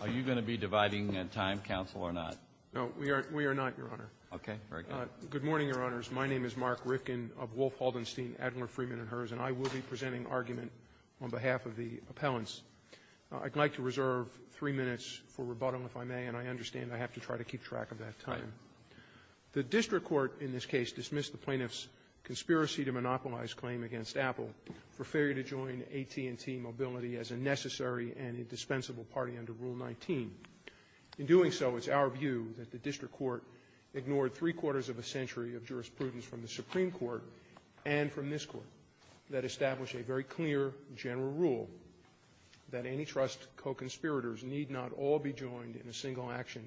Are you going to be dividing time, counsel, or not? No, we are not, Your Honor. Okay. Very good. Good morning, Your Honors. My name is Mark Rifkin of Wolf, Haldenstein, Adler, Freeman & Herz, and I will be presenting argument on behalf of the appellants. I'd like to reserve three minutes for rebuttal, if I may, and I understand I have to try to keep track of that time. The district court in this case dismissed the plaintiff's conspiracy to monopolize claim against Apple for failure to join AT&T Mobility as a necessary and indispensable party under Rule 19. In doing so, it's our view that the district court ignored three-quarters of a century of jurisprudence from the Supreme Court and from this Court that established a very clear general rule that any trust co-conspirators need not all be joined in a single action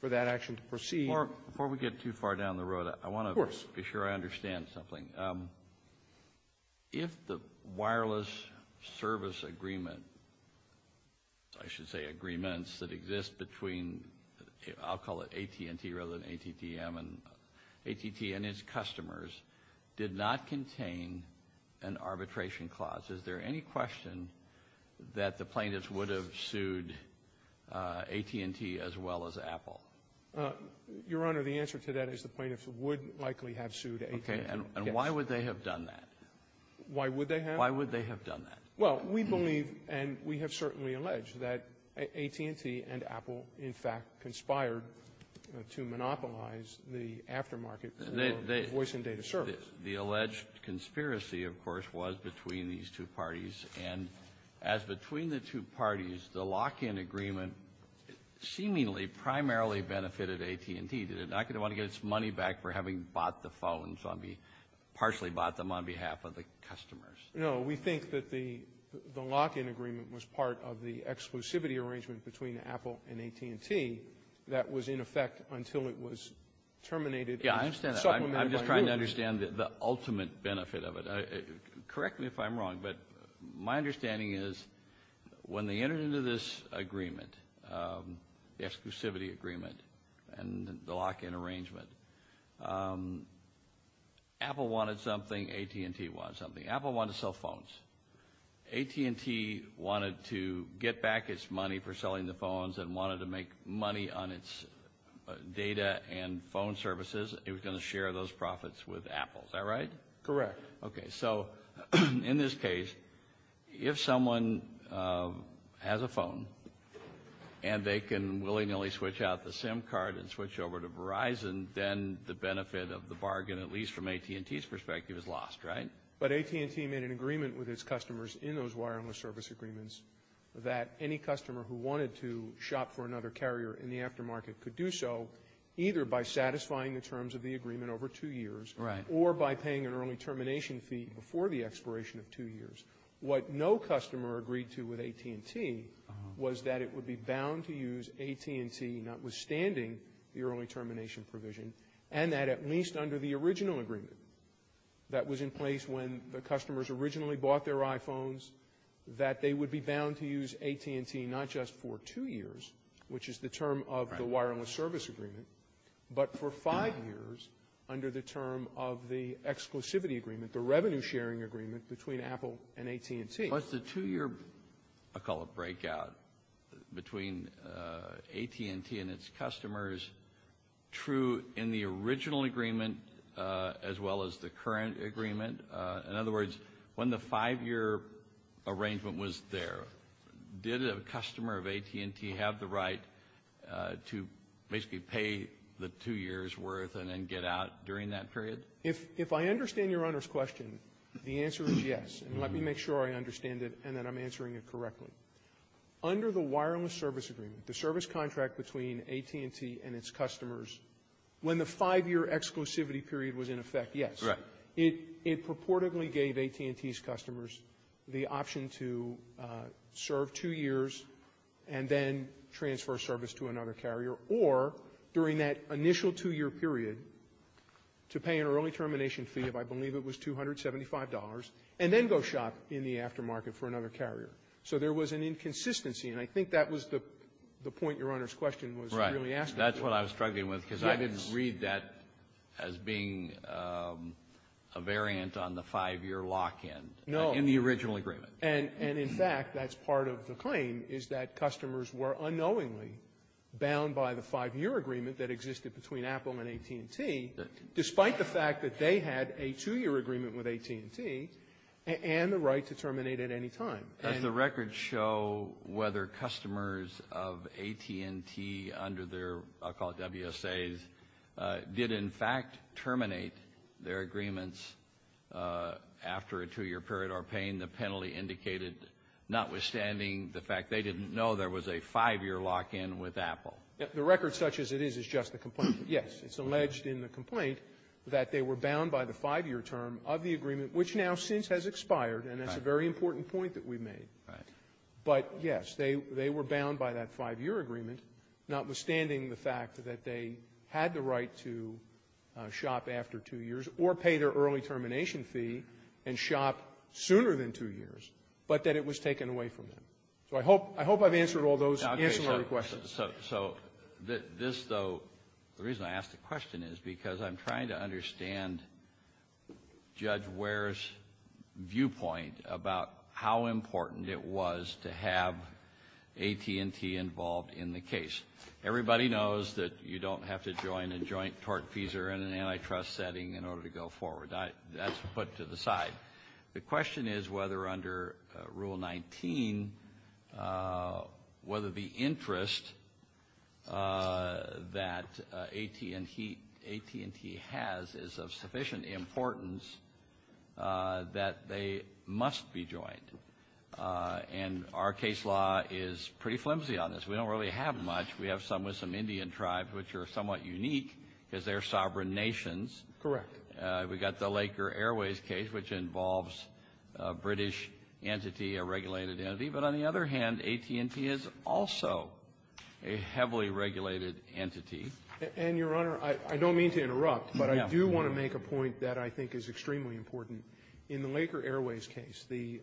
for that action to proceed. Mark, before we get too far down the road, I want to be sure I understand something. Of course. If the wireless service agreement, I should say agreements that exist between, I'll call it AT&T rather than ATTM, AT&T and its customers did not contain an arbitration clause, is there any question that the plaintiffs would have sued AT&T as well as Apple? Your Honor, the answer to that is the plaintiffs would likely have sued AT&T. And why would they have done that? Why would they have? Why would they have done that? Well, we believe and we have certainly alleged that AT&T and Apple, in fact, conspired to monopolize the aftermarket for voice and data service. The alleged conspiracy, of course, was between these two parties. And as between the two parties, the lock-in agreement seemingly primarily benefited AT&T. They're not going to want to get its money back for having bought the phones, partially bought them on behalf of the customers. No, we think that the lock-in agreement was part of the exclusivity arrangement between Apple and AT&T that was in effect until it was terminated. Yeah, I understand that. I'm just trying to understand the ultimate benefit of it. Correct me if I'm wrong, but my understanding is when they entered into this agreement, the exclusivity agreement and the lock-in arrangement, Apple wanted something, AT&T wanted something. Apple wanted to sell phones. AT&T wanted to get back its money for selling the phones and wanted to make money on its data and phone services. It was going to share those profits with Apple. Is that right? Correct. Okay, so in this case, if someone has a phone and they can willy-nilly switch out the SIM card and switch over to Verizon, then the benefit of the bargain, at least from AT&T's perspective, is lost, right? But AT&T made an agreement with its customers in those wireless service agreements that any customer who wanted to shop for another carrier in the aftermarket could do so either by satisfying the terms of the agreement over two years or by paying an early termination fee before the expiration of two years. What no customer agreed to with AT&T was that it would be bound to use AT&T, notwithstanding the early termination provision, and that at least under the original agreement that was in place when the customers originally bought their iPhones, that they would be bound to use AT&T not just for two years, which is the term of the wireless service agreement, but for five years under the term of the exclusivity agreement, the revenue-sharing agreement between Apple and AT&T. Was the two-year, I call it breakout, between AT&T and its customers true in the original agreement as well as the current agreement? In other words, when the five-year arrangement was there, did a customer of AT&T have the right to basically pay the two years' worth and then get out during that period? If I understand Your Honor's question, the answer is yes, and let me make sure I understand it and that I'm answering it correctly. Under the wireless service agreement, the service contract between AT&T and its customers, when the five-year exclusivity period was in effect, yes, it purportedly gave AT&T's customers the option to serve two years and then transfer service to another carrier, or during that initial two-year period to pay an early termination fee of I believe it was $275 and then go shop in the aftermarket for another carrier. So there was an inconsistency, and I think that was the point Your Honor's question was really asking. That's what I was struggling with because I didn't read that as being a variant on the five-year lock-in in the original agreement. And in fact, that's part of the claim is that customers were unknowingly bound by the five-year agreement that existed between Apple and AT&T, despite the fact that they had a two-year agreement with AT&T and the right to terminate at any time. Does the record show whether customers of AT&T under their, I'll call it WSAs, did in fact terminate their agreements after a two-year period or pain the penalty indicated, notwithstanding the fact they didn't know there was a five-year lock-in with Apple? The record, such as it is, is just the complaint. Yes, it's alleged in the complaint that they were bound by the five-year term of the agreement, which now since has expired, and that's a very important point that we've made. Right. But, yes, they were bound by that five-year agreement, notwithstanding the fact that they had the right to shop after two years or pay their early termination fee and shop sooner than two years, but that it was taken away from them. So I hope I've answered all those answerable questions. So this, though, the reason I ask the question is because I'm trying to understand Judge Ware's viewpoint about how important it was to have AT&T involved in the case. Everybody knows that you don't have to join a joint tortfeasor in an antitrust setting in order to go forward. That's put to the side. The question is whether under Rule 19, whether the interest that AT&T has is of sufficient importance that they must be joined. And our case law is pretty flimsy on this. We don't really have much. We have some with some Indian tribes, which are somewhat unique because they're sovereign nations. Correct. We've got the Laker Airways case, which involves a British entity, a regulated entity. But on the other hand, AT&T is also a heavily regulated entity. And, Your Honor, I don't mean to interrupt, but I do want to make a point that I think is extremely important. In the Laker Airways case, the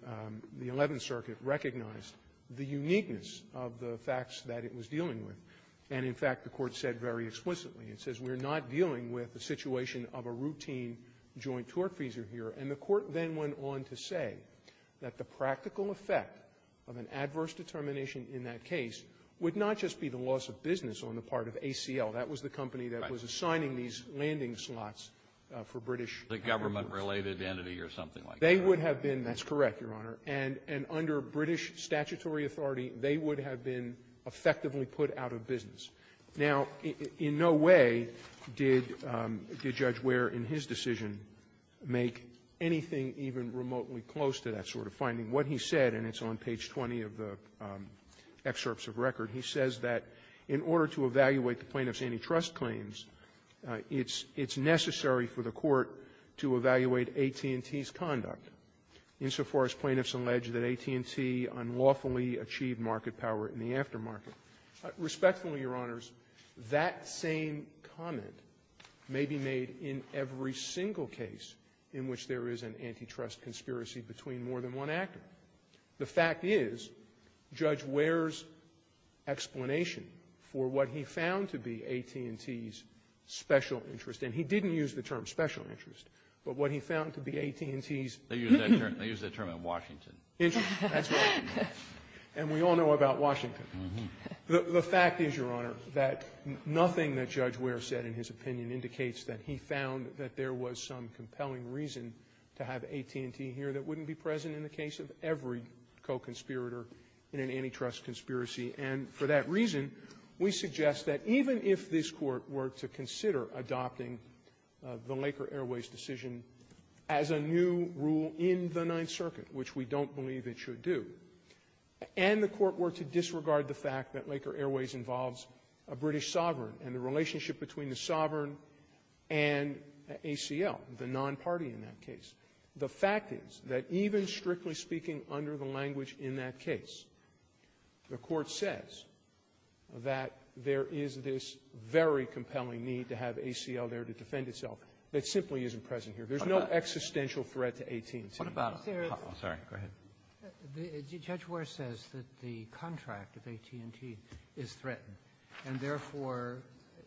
Eleventh Circuit recognized the uniqueness of the facts that it was dealing with. And, in fact, the Court said very explicitly, it says, we're not dealing with a situation of a routine joint tortfeasor here. And the Court then went on to say that the practical effect of an adverse determination in that case would not just be the loss of business on the part of ACL. That was the company that was assigning these landing slots for British airports. The government-related entity or something like that. They would have been. That's correct, Your Honor. And under British statutory authority, they would have been effectively put out of business. Now, in no way did Judge Ware, in his decision, make anything even remotely close to that sort of finding. What he said, and it's on page 20 of the excerpts of record, he says that in order to evaluate the plaintiff's antitrust claims, it's necessary for the Court to evaluate AT&T's conduct, insofar as plaintiffs allege that AT&T unlawfully achieved market power in the aftermarket. Respectfully, Your Honors, that same comment may be made in every single case in which there is an antitrust conspiracy between more than one actor. The fact is, Judge Ware's explanation for what he found to be AT&T's special interest, and he didn't use the term special interest, but what he found to be AT&T's ---- Interesting. That's right. And we all know about Washington. The fact is, Your Honor, that nothing that Judge Ware said in his opinion indicates that he found that there was some compelling reason to have AT&T here that wouldn't be present in the case of every co-conspirator in an antitrust conspiracy. And for that reason, we suggest that even if this Court were to consider adopting the Laker Airways decision as a new rule in the Ninth Circuit, which we don't believe it should do, and the Court were to disregard the fact that Laker Airways involves a British sovereign and the relationship between the sovereign and ACL, the non-party in that case, the fact is that even strictly speaking under the language in that case, the Court says that there is this very compelling need to have ACL there to defend itself that simply isn't present here. There's no existential threat to AT&T. What about ---- Oh, sorry. Go ahead. Judge Ware says that the contract of AT&T is threatened, and therefore,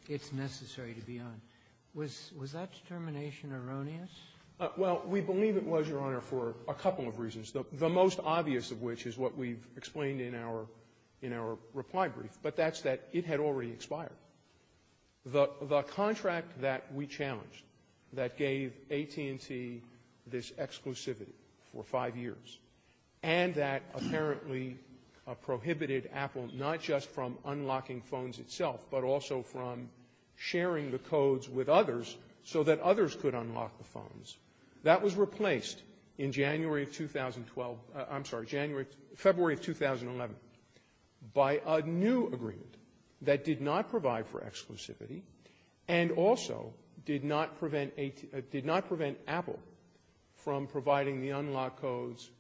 it's necessary to be on. Was that determination erroneous? Well, we believe it was, Your Honor, for a couple of reasons, the most obvious of which is what we've explained in our reply brief. But that's that it had already expired. The contract that we challenged that gave AT&T this exclusivity for five years, and that apparently prohibited Apple not just from unlocking phones itself, but also from sharing the codes with others so that others could unlock the phones, that was agreement that did not provide for exclusivity, and also did not prevent AT ---- did not prevent Apple from providing the unlock codes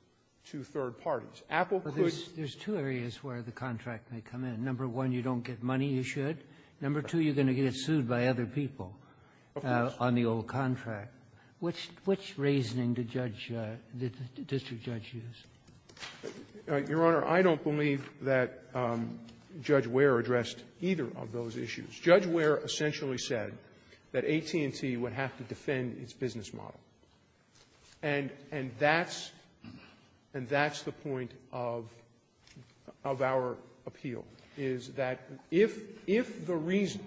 to third parties. Apple could ---- Well, there's two areas where the contract may come in. Number one, you don't get money, you should. Number two, you're going to get sued by other people on the old contract. Which ---- which reasoning did Judge ---- did the district judge use? Your Honor, I don't believe that Judge Ware addressed either of those issues. Judge Ware essentially said that AT&T would have to defend its business model. And that's the point of our appeal, is that if the reason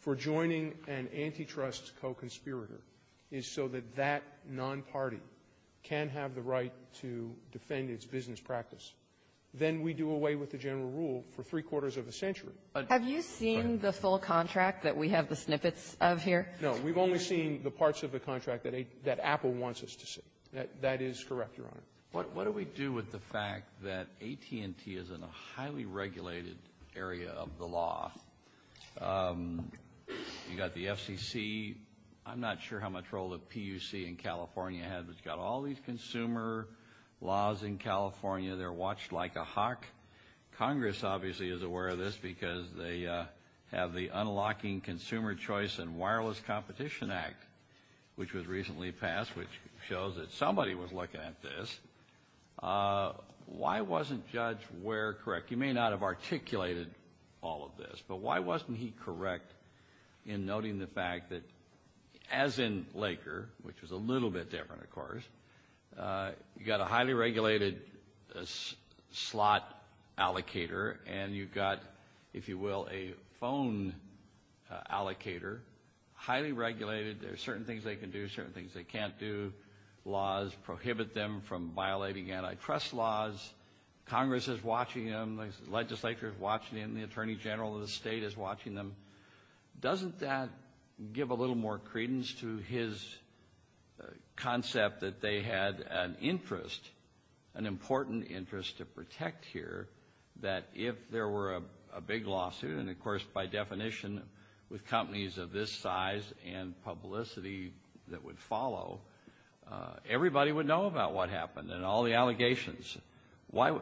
for joining an antitrust co-conspirator is so that that non-party can have the right to defend its business practice, then we do away with the general rule for three quarters of a century. Have you seen the full contract that we have the snippets of here? No. We've only seen the parts of the contract that Apple wants us to see. That is correct, Your Honor. What do we do with the fact that AT&T is in a highly regulated area of the law? You've got the FCC. I'm not sure how much role the PUC in California has. But you've got all these consumer laws in California. They're watched like a hawk. Congress obviously is aware of this because they have the Unlocking Consumer Choice and Wireless Competition Act, which was recently passed, which shows that somebody was looking at this. Why wasn't Judge Ware correct? You may not have articulated all of this, but why wasn't he correct in noting the fact that, as in Laker, which was a little bit different, of course, you've got a highly regulated slot allocator and you've got, if you will, a phone allocator, highly regulated. There are certain things they can do, certain things they can't do. Laws prohibit them from violating antitrust laws. Congress is watching them. The legislature is watching them. The attorney general of the state is watching them. Doesn't that give a little more credence to his concept that they had an interest, an important interest to protect here, that if there were a big lawsuit, and of course, by definition, with companies of this size and publicity that would follow, everybody would know about what happened and all the allegations. Why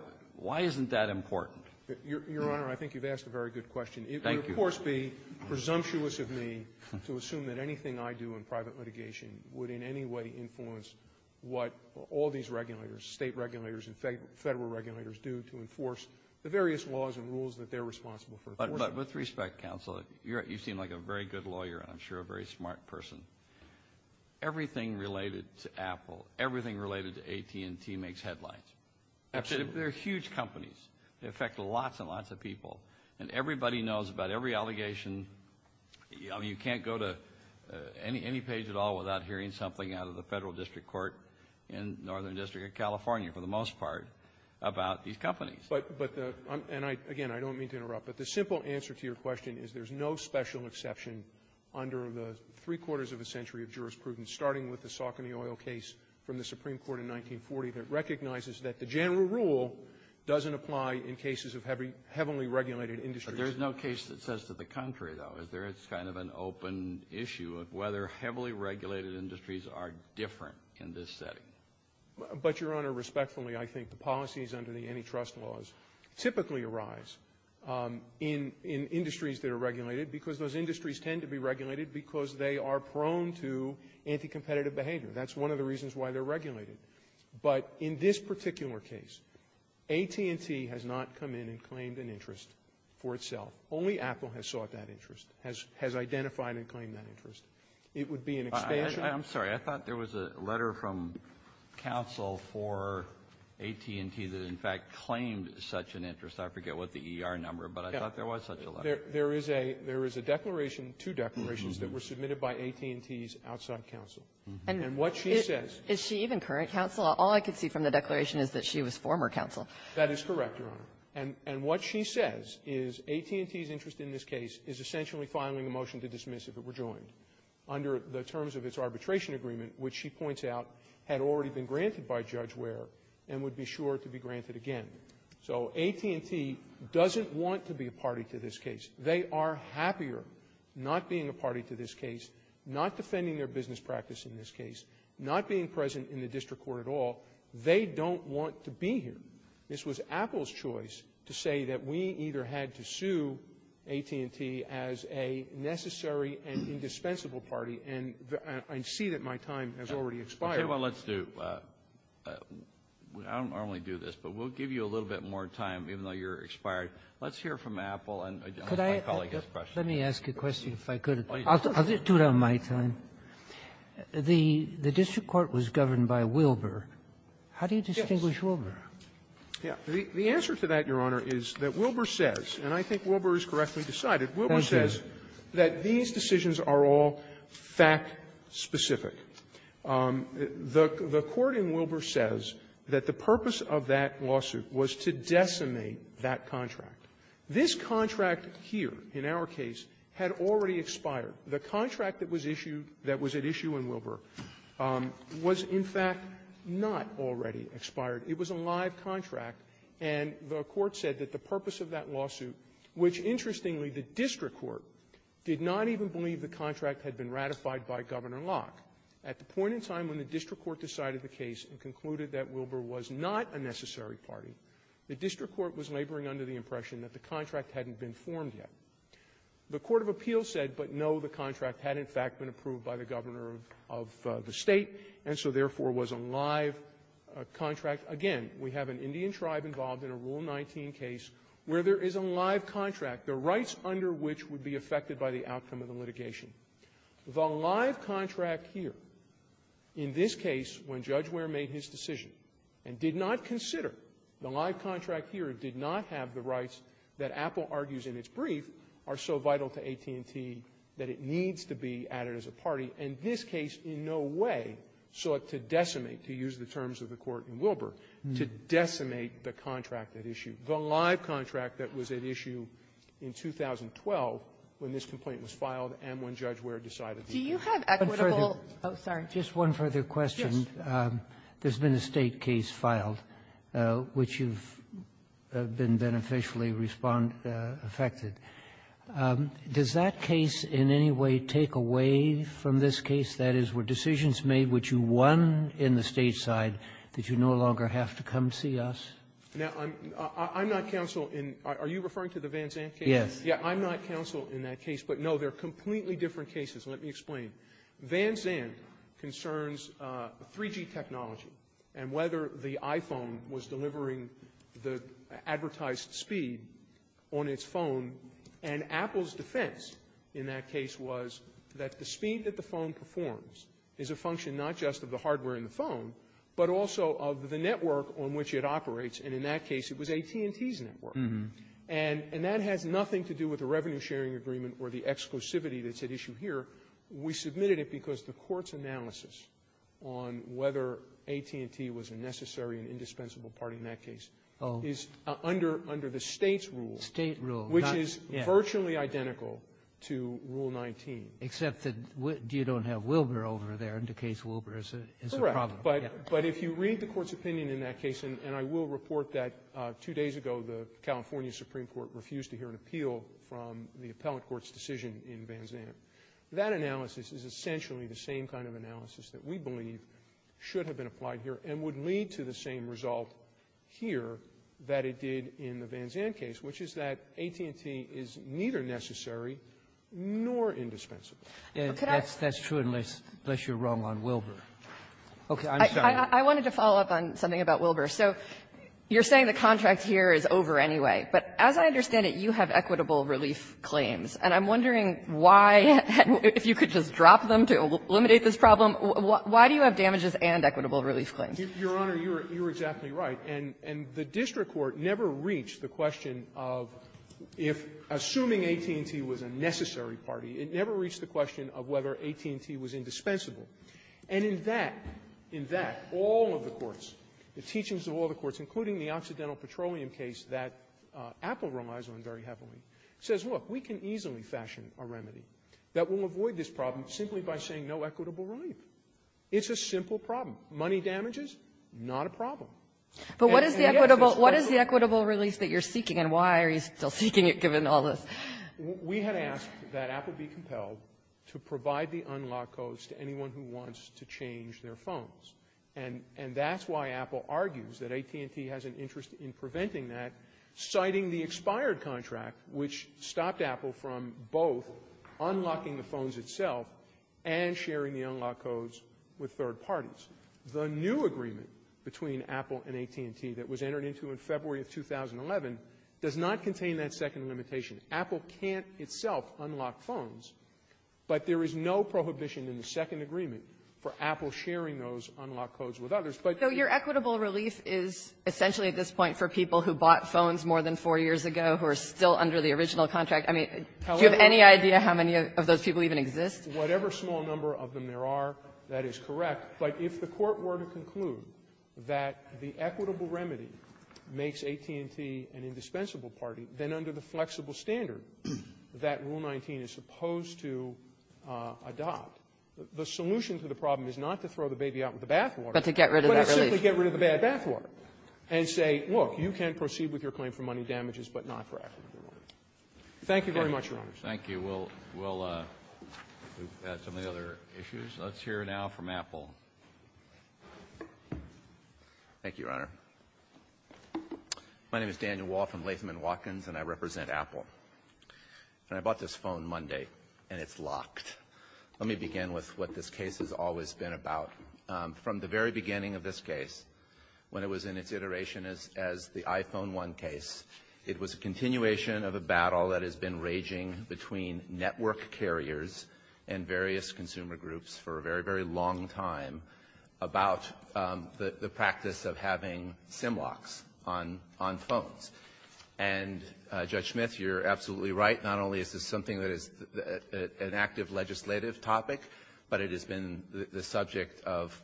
isn't that important? Your Honor, I think you've asked a very good question. Thank you. It would, of course, be presumptuous of me to assume that anything I do in private litigation would in any way influence what all these regulators, state regulators and federal regulators do to enforce the various laws and rules that they're responsible for enforcing. With respect, counsel, you seem like a very good lawyer and I'm sure a very smart person. Everything related to Apple, everything related to AT&T makes headlines. Absolutely. They're huge companies. They affect lots and lots of people. And everybody knows about every allegation. You can't go to any page at all without hearing something out of the federal district court in Northern District of California, for the most part, about these companies. And again, I don't mean to interrupt, but the simple answer to your question is there's no special exception under the three-quarters of a century of jurisprudence, starting with the Saucony Oil case from the Supreme Court in 1940 that recognizes that the general rule doesn't apply in cases of heavily regulated industries. But there's no case that says to the contrary, though, is there? It's kind of an open issue of whether heavily regulated industries are different in this setting. But, Your Honor, respectfully, I think the policies under the antitrust laws typically arise in industries that are regulated because those industries tend to be regulated because they are prone to anti-competitive behavior. That's one of the reasons why they're regulated. But in this particular case, AT&T has not come in and claimed an interest for itself. Only Apple has sought that interest, has identified and claimed that interest. It would be an expansion. Kennedy. I'm sorry. I thought there was a letter from counsel for AT&T that, in fact, claimed such an interest. I forget what the E.R. number, but I thought there was such a letter. There is a declaration, two declarations, that were submitted by AT&T's outside counsel. And what she says — Is she even current counsel? All I can see from the declaration is that she was former counsel. That is correct, Your Honor. And what she says is AT&T's interest in this case is essentially filing a motion to dismiss if it were joined under the terms of its arbitration agreement, which she points out had already been granted by Judge Ware and would be sure to be granted again. So AT&T doesn't want to be a party to this case. They are happier not being a party to this case, not defending their business practice in this case, not being present in the district court at all. They don't want to be here. This was Apple's choice to say that we either had to sue AT&T as a necessary and indispensable party, and I see that my time has already expired. Kennedy. Okay. Well, let's do — I don't normally do this, but we'll give you a little bit more time, even though you're expired. Let's hear from Apple and my colleague has questions. Let me ask a question, if I could. I'll do it on my time. The district court was governed by Wilbur. How do you distinguish Wilbur? The answer to that, Your Honor, is that Wilbur says, and I think Wilbur is correctly decided, Wilbur says that these decisions are all fact-specific. The court in Wilbur says that the purpose of that lawsuit was to decimate that contract. This contract here, in our case, had already expired. The contract that was issued, that was at issue in Wilbur, was, in fact, not already expired. It was a live contract, and the court said that the purpose of that lawsuit, which, interestingly, the district court did not even believe the contract had been ratified by Governor Locke at the point in time when the district court decided the case and concluded that Wilbur was not a necessary party, the district court was laboring under the impression that the contract hadn't been formed yet. The court of appeals said, but no, the contract had, in fact, been approved by the governor of the State, and so, therefore, was a live contract. Again, we have an Indian tribe involved in a Rule 19 case where there is a live contract, the rights under which would be affected by the outcome of the litigation. The live contract here, in this case, when Judge Ware made his decision and did not consider the live contract here, did not have the rights that Apple argues in its brief are so vital to AT&T that it needs to be added as a party, and this case in no way sought to decimate, to use the terms of the court in Wilbur, to decimate the contract at issue, the live contract that was at issue in 2012 when this complaint was filed and when Judge Ware decided to use it. Kagan. Ginsburg. Do you have equitable ---- Kagan. Oh, sorry. Roberts. Just one further question. Kagan. Yes. Roberts. There's been a State case filed which you've been beneficially affected. Does that case in any way take away from this case? That is, were decisions made, which you won in the State side, that you no longer have to come see us? Now, I'm not counsel in the Van Zandt case. Roberts. Yes. I'm not counsel in that case, but, no, they're completely different cases. Let me explain. Van Zandt concerns 3G technology and whether the iPhone was delivering the advertised speed on its phone, and Apple's defense in that case was that the speed that the phone performs is a function not just of the hardware in the phone, but also of the network on which it operates, and in that case, it was AT&T's network. And that has nothing to do with the revenue-sharing agreement or the exclusivity that's at issue here. We submitted it because the Court's analysis on whether AT&T was a necessary and indispensable party in that case is under the State's rule, which is virtually identical to Rule 19. Except that you don't have Wilbur over there, and the case of Wilbur is a problem. Correct. But if you read the Court's opinion in that case, and I will report that two days ago the California Supreme Court refused to hear an appeal from the appellant court's decision in Van Zandt, that analysis is essentially the same kind of analysis that we believe should have been applied here and would lead to the same result here that it did in the Van Zandt case, which is that AT&T is neither necessary nor indispensable. And that's true unless you're wrong on Wilbur. Okay. I'm sorry. I wanted to follow up on something about Wilbur. So you're saying the contract here is over anyway. But as I understand it, you have equitable relief claims. And I'm wondering why, if you could just drop them to eliminate this problem, why do you have damages and equitable relief claims? Your Honor, you're exactly right. And the district court never reached the question of if, assuming AT&T was a necessary party, it never reached the question of whether AT&T was indispensable. And in that, in that, all of the courts, the teachings of all the courts, including the Occidental Petroleum case that Apple relies on very heavily, says, look, we can easily fashion a remedy that will avoid this problem simply by saying no equitable relief. It's a simple problem. Not a problem. And yet, there's no question. But what is the equitable release that you're seeking, and why are you still seeking it given all this? We had asked that Apple be compelled to provide the unlock codes to anyone who wants to change their phones. And that's why Apple argues that AT&T has an interest in preventing that, citing the expired contract, which stopped Apple from both unlocking the phones itself and sharing the unlock codes with third parties. The new agreement between Apple and AT&T that was entered into in February of 2011 does not contain that second limitation. Apple can't itself unlock phones, but there is no prohibition in the second agreement for Apple sharing those unlock codes with others. But you can't do that with AT&T. So your equitable relief is essentially at this point for people who bought phones more than four years ago who are still under the original contract? I mean, do you have any idea how many of those people even exist? Whatever small number of them there are, that is correct. But if the Court were to conclude that the equitable remedy makes AT&T an indispensable party, then under the flexible standard that Rule 19 is supposed to adopt, the solution to the problem is not to throw the baby out with the bathwater, but to simply get rid of the bad bathwater and say, look, you can proceed with your claim for money damages, but not for equitable relief. Thank you very much, Your Honors. Thank you. We'll move to some of the other issues. Let's hear now from Apple. Thank you, Your Honor. My name is Daniel Wall from Latham & Watkins, and I represent Apple. And I bought this phone Monday, and it's locked. Let me begin with what this case has always been about. From the very beginning of this case, when it was in its iteration as the iPhone 1 case, it was a continuation of a battle that has been raging between network carriers and various consumer groups for a very, very long time about the practice of having SIM locks on phones. And, Judge Smith, you're absolutely right. Not only is this something that is an active legislative topic, but it has been the subject of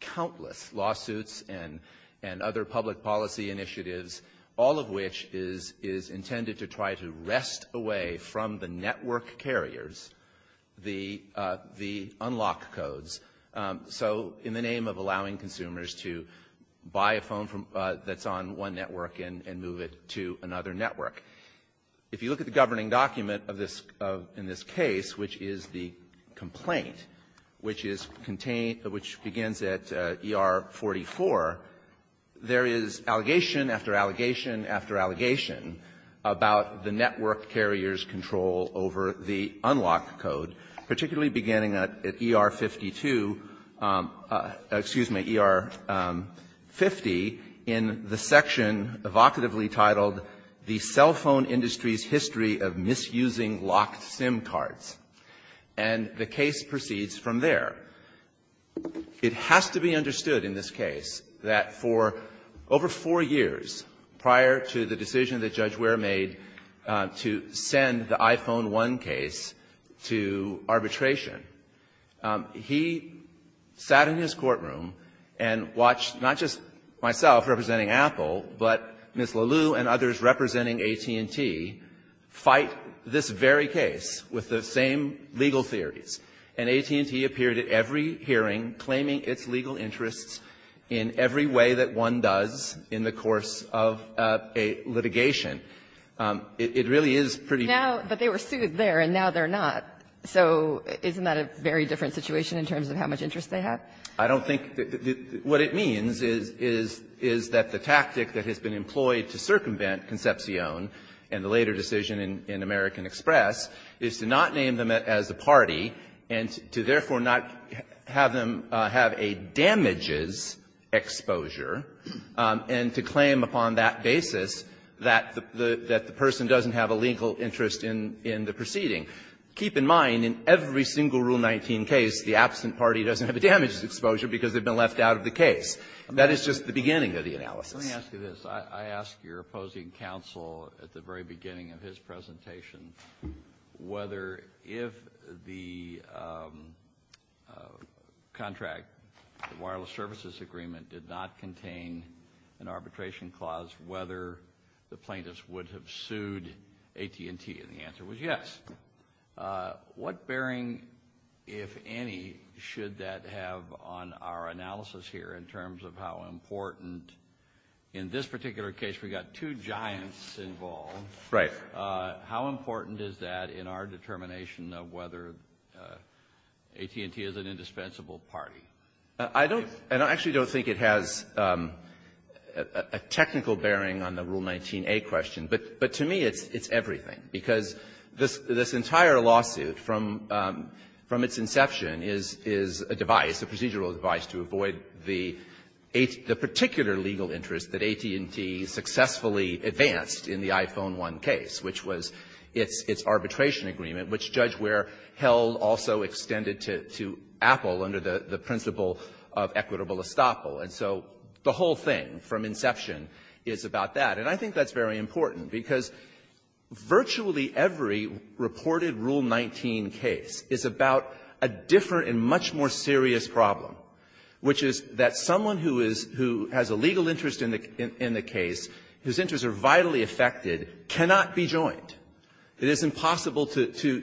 countless lawsuits and other public policy initiatives, all of which is intended to try to wrest away from the network carriers the unlock codes, so in the name of allowing consumers to buy a phone that's on one network and move it to another network. If you look at the governing document of this, in this case, which is the complaint, which is contained, which begins at ER 44, there is allegation after allegation after allegation about the network carrier's control over the unlock code, particularly beginning at ER 52, excuse me, ER 50, in the section evocatively titled, The Cell Phone Industry's History of Misusing Locked SIM Cards. And the case proceeds from there. It has to be understood in this case that for over four years, prior to this case, prior to the decision that Judge Ware made to send the iPhone 1 case to arbitration, he sat in his courtroom and watched not just myself representing Apple, but Ms. Lalew and others representing AT&T fight this very case with the same legal theories. And AT&T appeared at every hearing claiming its legal interests in every way that one does in the course of a litigation. It really is pretty different. Now, but they were sued there, and now they're not. So isn't that a very different situation in terms of how much interest they have? I don't think the — what it means is, is that the tactic that has been employed to circumvent Concepcion and the later decision in American Express is to not name them as a party, and to therefore not have them have a damages exposure, and to claim upon that basis that the — that the person doesn't have a legal interest in the proceeding. Keep in mind, in every single Rule 19 case, the absent party doesn't have a damages exposure because they've been left out of the case. That is just the beginning of the analysis. Kennedy. Let me ask you this. I ask your opposing counsel at the very beginning of his presentation whether if the contract, the wireless services agreement, did not contain an arbitration clause, whether the plaintiffs would have sued AT&T. And the answer was yes. What bearing, if any, should that have on our analysis here in terms of how important — in this particular case, we've got two giants involved. Right. How important is that in our determination of whether AT&T is an indispensable party? I don't — and I actually don't think it has a technical bearing on the Rule 19a question. But to me, it's everything. Because this entire lawsuit from its inception is a device, a procedural device, to avoid the particular legal interest that AT&T successfully advanced in the iPhone 1 case, which was its arbitration agreement, which Judge Ware held also extended to Apple under the principle of equitable estoppel. And so the whole thing from inception is about that. And I think that's very important, because virtually every reported Rule 19 case is about a different and much more serious problem, which is that someone who is — who has a legal interest in the case, whose interests are vitally affected, cannot be joined. It is impossible to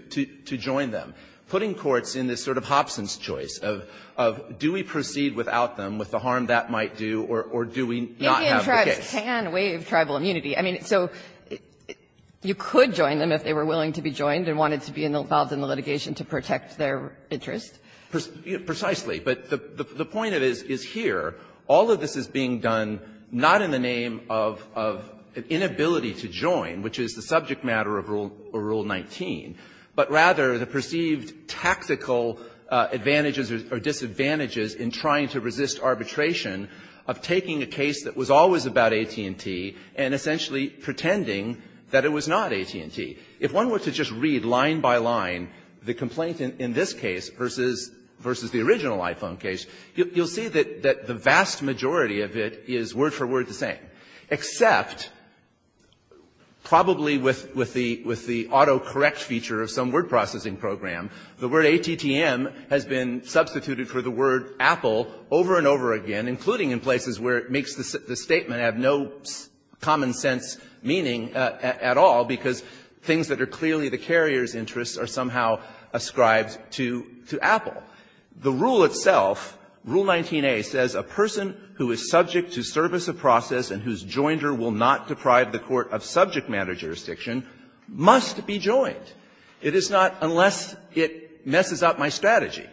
join them. Putting courts in this sort of Hobson's choice of, do we proceed without them with the harm that might do, or do we not have the case? Maybe in tribes can waive tribal immunity. I mean, so you could join them if they were willing to be joined and wanted to be involved in the litigation to protect their interest. Precisely. But the point is here, all of this is being done not in the name of inability to join, which is the subject matter of Rule 19, but rather the perceived tactical advantages or disadvantages in trying to resist arbitration of taking a case that was always about AT&T and essentially pretending that it was not AT&T. If one were to just read line by line the complaint in this case versus the original iPhone case, you'll see that the vast majority of it is word for word the same, except probably with the auto-correct feature of some word processing program, the word ATTM has been substituted for the word Apple over and over again, including in places where it makes the statement have no common sense meaning at all, because things that are clearly the carrier's interests are somehow ascribed to Apple. The rule itself, Rule 19a, says a person who is subject to service of process and whose joinder will not deprive the court of subject matter jurisdiction must be joined. It is not unless it messes up my strategy.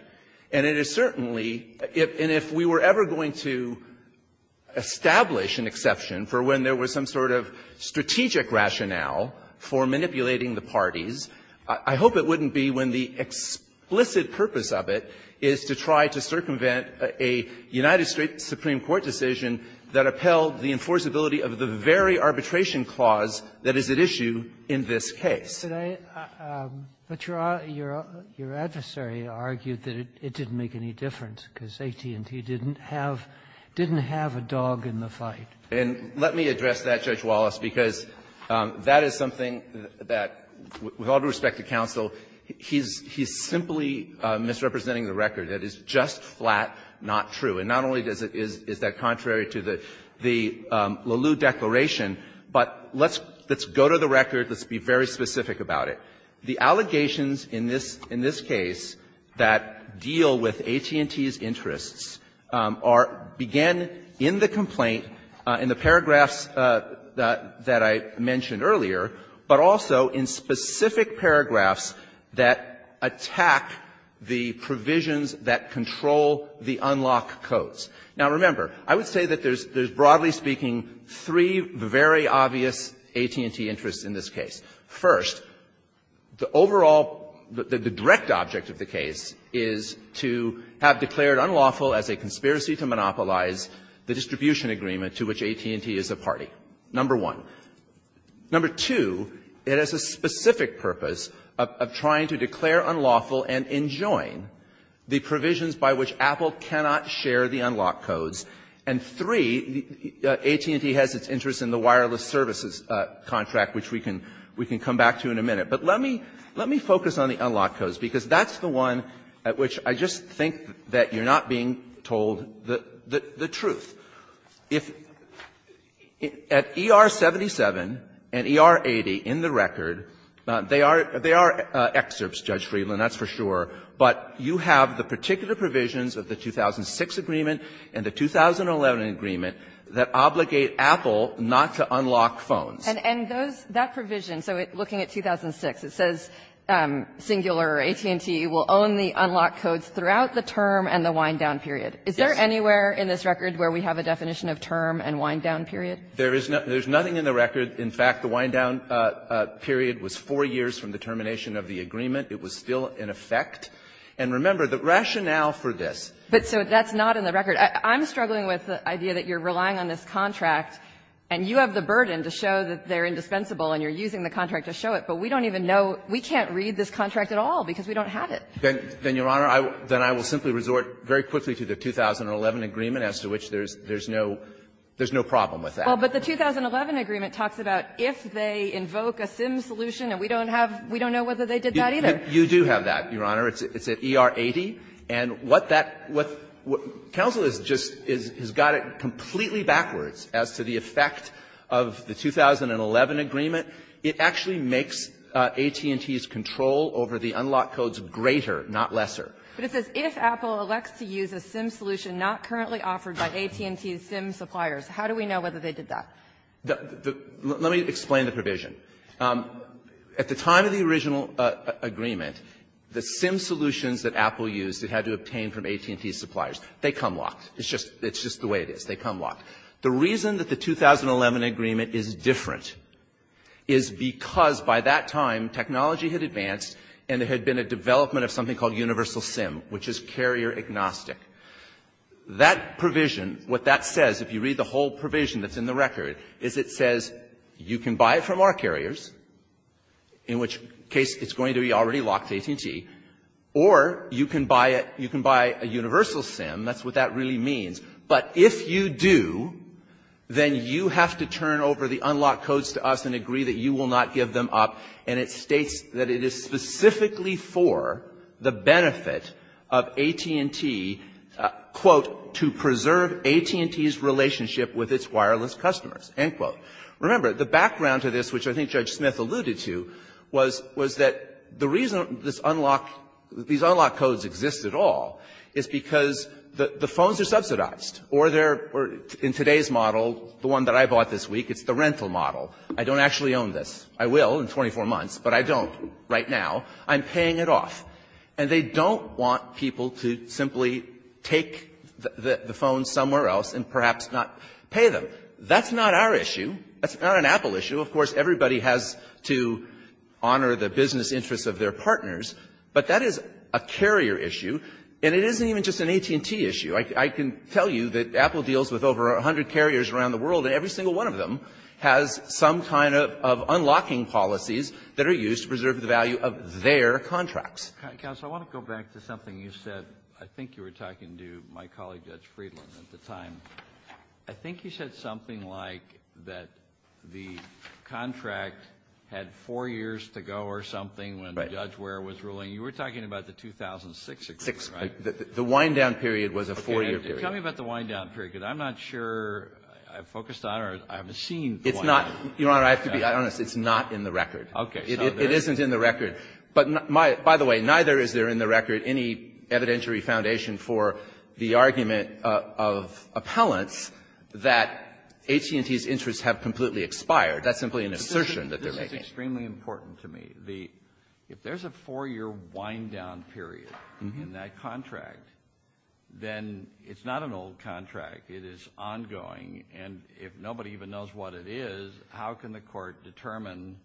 And it is certainly and if we were ever going to establish an exception for when there was some sort of strategic rationale for manipulating the parties, I hope it wouldn't be when the explicit purpose of it is to try to circumvent a United States Supreme Court decision that upheld the enforceability of the very arbitration clause that is at issue in this case. But your adversary argued that it didn't make any difference because AT&T didn't have a dog in the fight. And let me address that, Judge Wallace, because that is something that, with all due respect to counsel, he's simply misrepresenting the record. That is just flat, not true. And not only is that contrary to the Leleau Declaration, but let's go to the record. Let's be very specific about it. The allegations in this case that deal with AT&T's interests are begin in the complaint in the paragraphs that I mentioned earlier, but also in specific paragraphs that attack the provisions that control the unlock codes. Now, remember, I would say that there's broadly speaking three very obvious AT&T interests in this case. First, the overall, the direct object of the case is to have declared unlawful as a conspiracy to monopolize the distribution agreement to which AT&T is a party. Number one. Number two, it has a specific purpose of trying to declare unlawful and enjoin the provisions by which Apple cannot share the unlock codes. And three, AT&T has its interest in the wireless services contract, which we can come back to in a minute. But let me focus on the unlock codes, because that's the one at which I just think that you're not being told the truth. If at ER-77 and ER-80 in the record, they are excerpts, Judge Friedland, that's for sure, but you have the particular provisions of the 2006 agreement and the 2011 agreement that obligate Apple not to unlock phones. And those, that provision, so looking at 2006, it says singular AT&T will own the term and the wind-down period. Is there anywhere in this record where we have a definition of term and wind-down period? There is not. There's nothing in the record. In fact, the wind-down period was four years from the termination of the agreement. It was still in effect. And remember, the rationale for this was that the contract was not in the record. I'm struggling with the idea that you're relying on this contract, and you have the burden to show that they're indispensable and you're using the contract to show it, but we don't even know. We can't read this contract at all because we don't have it. Then, Your Honor, then I will simply resort very quickly to the 2011 agreement, as to which there's no problem with that. Well, but the 2011 agreement talks about if they invoke a SIM solution, and we don't have we don't know whether they did that either. You do have that, Your Honor. It's at ER 80. And what that what counsel has just got it completely backwards as to the effect of the 2011 agreement. It actually makes AT&T's control over the unlock codes greater, not lesser. But it says, if Apple elects to use a SIM solution not currently offered by AT&T's SIM suppliers, how do we know whether they did that? Let me explain the provision. At the time of the original agreement, the SIM solutions that Apple used, it had to obtain from AT&T's suppliers. They come locked. It's just it's just the way it is. They come locked. The reason that the 2011 agreement is different is because by that time, technology had advanced, and there had been a development of something called universal SIM, which is carrier agnostic. That provision, what that says, if you read the whole provision that's in the record, is it says you can buy it from our carriers, in which case it's going to be already locked to AT&T, or you can buy it you can buy a universal SIM. That's what that really means. But if you do, then you have to turn over the unlocked codes to us and agree that you will not give them up, and it states that it is specifically for the benefit of AT&T, quote, to preserve AT&T's relationship with its wireless customers, end quote. Remember, the background to this, which I think Judge Smith alluded to, was that the reason this unlock these unlock codes exist at all is because the phones are licensed, or they're, in today's model, the one that I bought this week, it's the rental model. I don't actually own this. I will in 24 months, but I don't right now. I'm paying it off. And they don't want people to simply take the phone somewhere else and perhaps not pay them. That's not our issue. That's not an Apple issue. Of course, everybody has to honor the business interests of their partners, but that is a carrier issue, and it isn't even just an AT&T issue. I can tell you that Apple deals with over 100 carriers around the world, and every single one of them has some kind of unlocking policies that are used to preserve the value of their contracts. Kennedy. Counsel, I want to go back to something you said. I think you were talking to my colleague, Judge Friedland, at the time. I think you said something like that the contract had four years to go or something when Judge Ware was ruling. You were talking about the 2006 agreement, right? The wind-down period was a four-year period. Okay. Tell me about the wind-down period, because I'm not sure I've focused on it or I haven't seen the wind-down period. It's not. Your Honor, I have to be honest. It's not in the record. Okay. It isn't in the record. But my — by the way, neither is there in the record any evidentiary foundation for the argument of appellants that AT&T's interests have completely expired. That's simply an assertion that they're making. This is extremely important to me. The — if there's a four-year wind-down period in that contract, then it's not an old contract. It is ongoing. And if nobody even knows what it is, how can the Court determine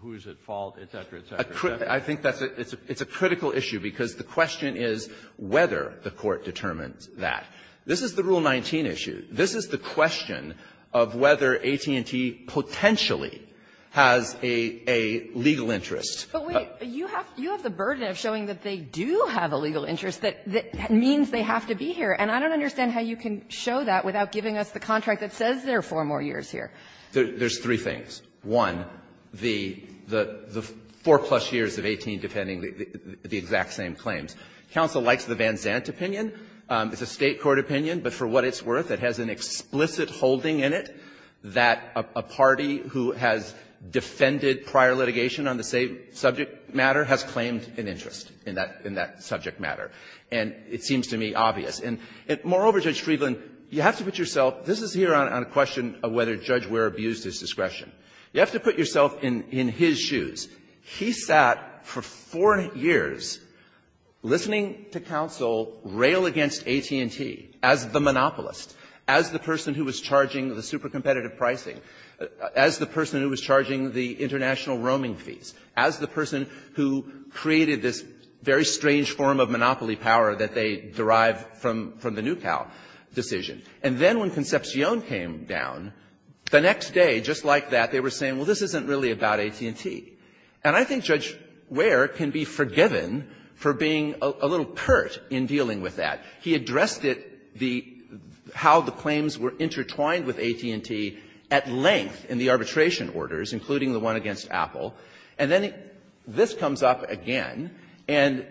who's at fault, et cetera, et cetera, et cetera? I think that's a — it's a critical issue, because the question is whether the Court determines that. This is the Rule 19 issue. This is the question of whether AT&T potentially has a — a legal interest. But wait. You have — you have the burden of showing that they do have a legal interest that — that means they have to be here. And I don't understand how you can show that without giving us the contract that says there are four more years here. There's three things. One, the — the four-plus years of 18 defending the exact same claims. Counsel likes the Van Zandt opinion. It's a State court opinion. But for what it's worth, it has an explicit holding in it that a party who has defended prior litigation on the same subject matter has claimed an interest in that — in that subject matter. And it seems to me obvious. And moreover, Judge Friedland, you have to put yourself — this is here on a question of whether Judge Ware abused his discretion. You have to put yourself in — in his shoes. He sat for four years listening to counsel rail against AT&T as the monopolist, as the person who was charging the supercompetitive pricing, as the person who was charging the international roaming fees, as the person who created this very strange form of monopoly power that they derive from — from the Nucal decision. And then when Concepcion came down, the next day, just like that, they were saying, well, this isn't really about AT&T. And I think Judge Ware can be forgiven for being a little pert in dealing with that. He addressed it, the — how the claims were intertwined with AT&T at length in the arbitration orders, including the one against Apple. And then this comes up again. And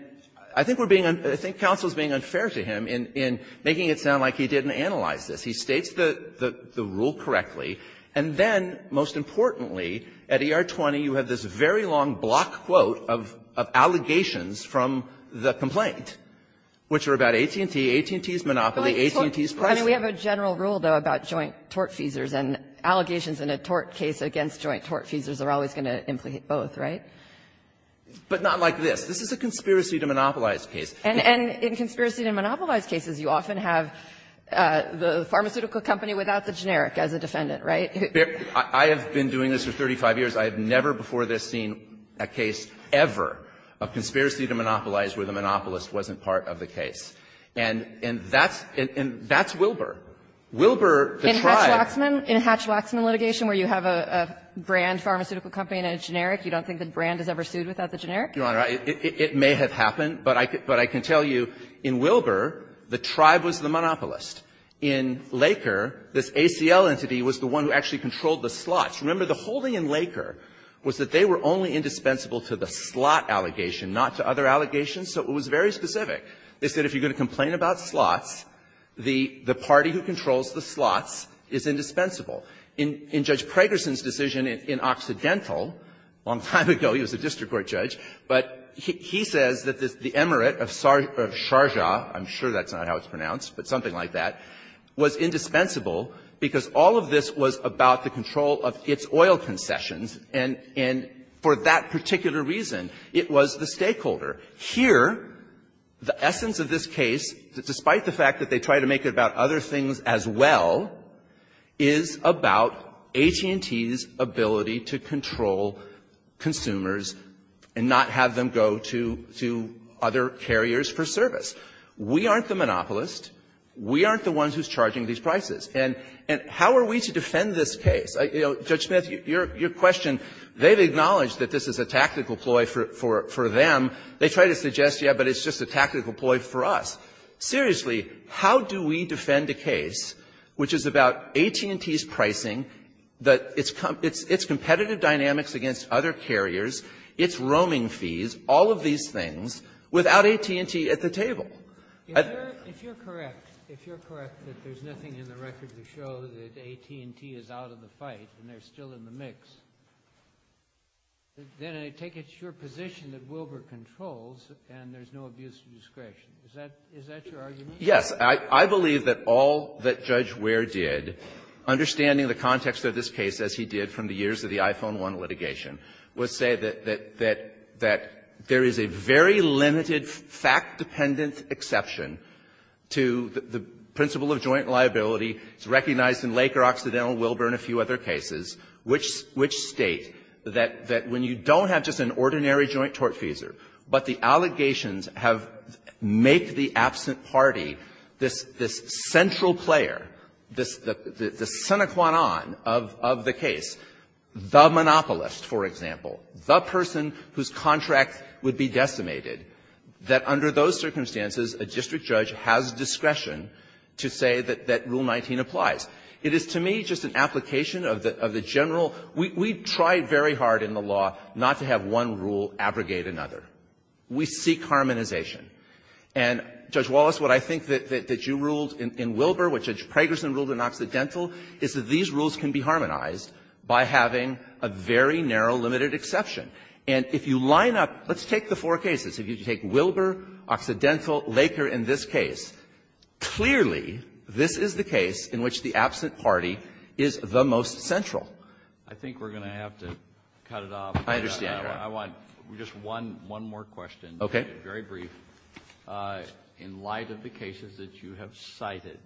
I think we're being — I think counsel is being unfair to him in — in making it sound like he didn't analyze this. He states the — the rule correctly. And then, most importantly, at ER-20, you have this very long block quote of — of allegations from the complaint, which are about AT&T, AT&T's monopoly, AT&T's pricing. I mean, we have a general rule, though, about joint tortfeasors, and allegations in a tort case against joint tortfeasors are always going to implicate both, right? But not like this. This is a conspiracy to monopolize case. And — and in conspiracy to monopolize cases, you often have the pharmaceutical company without the generic as a defendant, right? I have been doing this for 35 years. I have never before this seen a case ever of conspiracy to monopolize where the monopolist wasn't part of the case. And — and that's — and that's Wilbur. Wilbur, the tribe — In Hatch-Waxman — in Hatch-Waxman litigation, where you have a — a brand pharmaceutical company and a generic, you don't think the brand is ever sued without the generic? Your Honor, it — it may have happened, but I can — but I can tell you, in Wilbur, the tribe was the monopolist. In Laker, this ACL entity was the one who actually controlled the slots. Remember, the holding in Laker was that they were only indispensable to the slot allegation, not to other allegations, so it was very specific. They said if you're going to complain about slots, the — the party who controls the slots is indispensable. In — in Judge Pragerson's decision in Occidental, a long time ago, he was a district court judge, but he — he says that the — the emirate of Sharjah — I'm sure that's not how it's pronounced, but something like that — was indispensable because all of this was about the control of its oil concessions, and — and for that particular reason, it was the stakeholder. Here, the essence of this case, despite the fact that they try to make it about other things as well, is about AT&T's ability to control consumers and not have them go to — to other carriers for service. We aren't the monopolist. We aren't the ones who's charging these prices. And — and how are we to defend this case? You know, Judge Smith, your — your question, they've acknowledged that this is a tactical ploy for — for — for them. They try to suggest, yeah, but it's just a tactical ploy for us. Seriously, how do we defend a case which is about AT&T's pricing, that its — its — its competitive dynamics against other carriers, its roaming fees, all of these things, without AT&T at the table? If you're — if you're correct, if you're correct that there's nothing in the record to show that AT&T is out of the fight and they're still in the mix, then I take it's your position that Wilbur controls and there's no abuse of discretion. Is that — is that your argument? Yes. I — I believe that all that Judge Wehr did, understanding the context of this case as he did from the years of the iPhone 1 litigation, was say that — that — that there is a very limited fact-dependent exception to the — the principle of joint liability. It's recognized in Laker, Occidental, Wilbur, and a few other cases, which — which state that — that when you don't have just an ordinary joint tortfeasor, but the allegations have — make the absent party this — this central player, this — the — the sine qua non of — of the case, the monopolist, for example, would be decimated, that under those circumstances a district judge has discretion to say that — that Rule 19 applies. It is, to me, just an application of the — of the general — we — we tried very hard in the law not to have one rule abrogate another. We seek harmonization. And, Judge Wallace, what I think that — that you ruled in — in Wilbur, what Judge Pragerson ruled in Occidental, is that these rules can be harmonized by having a very narrow, limited exception. And if you line up — let's take the four cases. If you take Wilbur, Occidental, Laker in this case, clearly, this is the case in which the absent party is the most central. I think we're going to have to cut it off. I understand, Your Honor. I want just one — one more question. Okay. Very brief. In light of the cases that you have cited,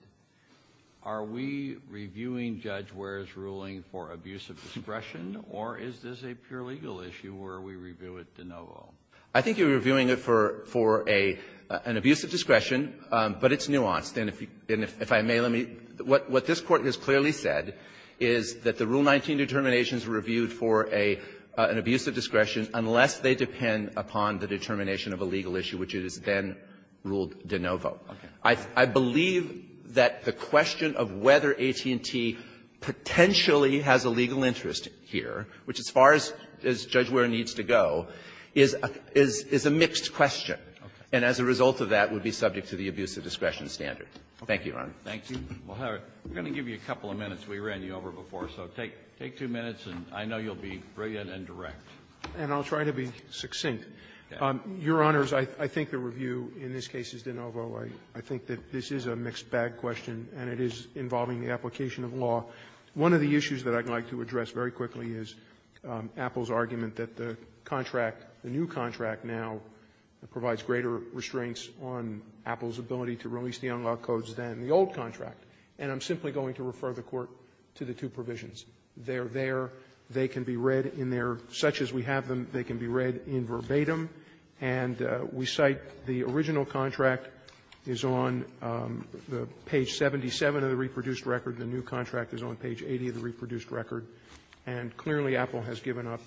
are we reviewing Judge Ware's ruling for abuse of discretion, or is this a pure legal issue, or are we reviewing it de novo? I think you're reviewing it for — for a — an abuse of discretion, but it's nuanced. And if you — and if I may, let me — what this Court has clearly said is that the Rule 19 determinations are reviewed for a — an abuse of discretion unless they depend upon the determination of a legal issue, which it is then ruled de novo. Okay. I — I believe that the question of whether AT&T potentially has a legal interest here, which, as far as — as Judge Ware needs to go, is a — is a mixed question. Okay. And as a result of that, would be subject to the abuse of discretion standard. Thank you, Your Honor. Thank you. Well, Howard, we're going to give you a couple of minutes. We ran you over before, so take — take two minutes, and I know you'll be brilliant and direct. And I'll try to be succinct. Your Honors, I — I think the review in this case is de novo. I — I think that this is a mixed-bag question, and it is involving the application of law. One of the issues that I'd like to address very quickly is Apple's argument that the contract, the new contract now, provides greater restraints on Apple's ability to release the unlawed codes than the old contract. And I'm simply going to refer the Court to the two provisions. They're there. They can be read in their — such as we have them, they can be read in verbatim and we cite the original contract is on the page 77 of the reproduced record. The new contract is on page 80 of the reproduced record. And clearly, Apple has given up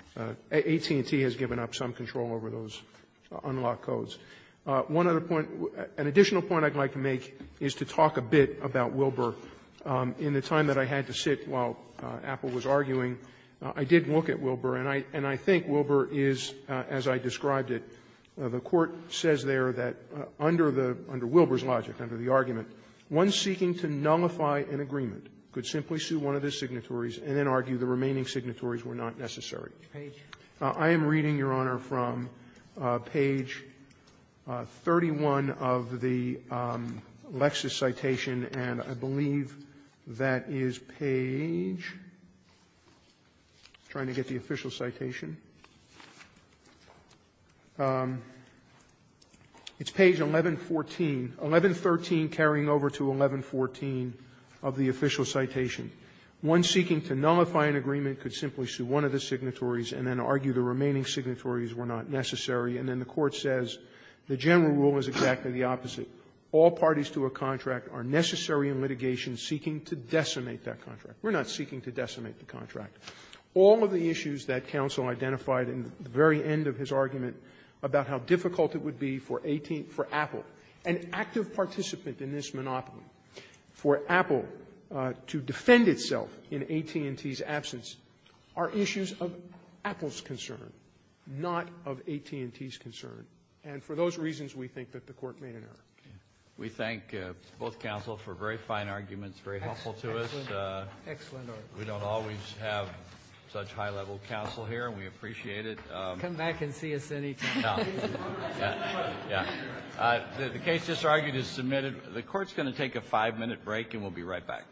— AT&T has given up some control over those unlawed codes. One other point — an additional point I'd like to make is to talk a bit about Wilbur. In the time that I had to sit while Apple was arguing, I did look at Wilbur, and I — and as I described it, the Court says there that under the — under Wilbur's logic, under the argument, one seeking to nullify an agreement could simply sue one of his signatories and then argue the remaining signatories were not necessary. I am reading, Your Honor, from page 31 of the Lexis citation, and I believe that is page — I'm trying to get the official citation. It's page 1114, 1113 carrying over to 1114 of the official citation. One seeking to nullify an agreement could simply sue one of the signatories and then argue the remaining signatories were not necessary. And then the Court says the general rule is exactly the opposite. All parties to a contract are necessary in litigation seeking to decimate that contract. We're not seeking to decimate the contract. All of the issues that counsel identified in the very end of his argument about how difficult it would be for 18 — for Apple, an active participant in this monopoly, for Apple to defend itself in AT&T's absence are issues of Apple's concern, not of AT&T's concern. And for those reasons, we think that the Court made an error. Kennedy. We thank both counsel for very fine arguments, very helpful to us. Excellent argument. We don't always have such high-level counsel here, and we appreciate it. Come back and see us any time. No. The case just argued is submitted. The Court's going to take a five-minute break, and we'll be right back.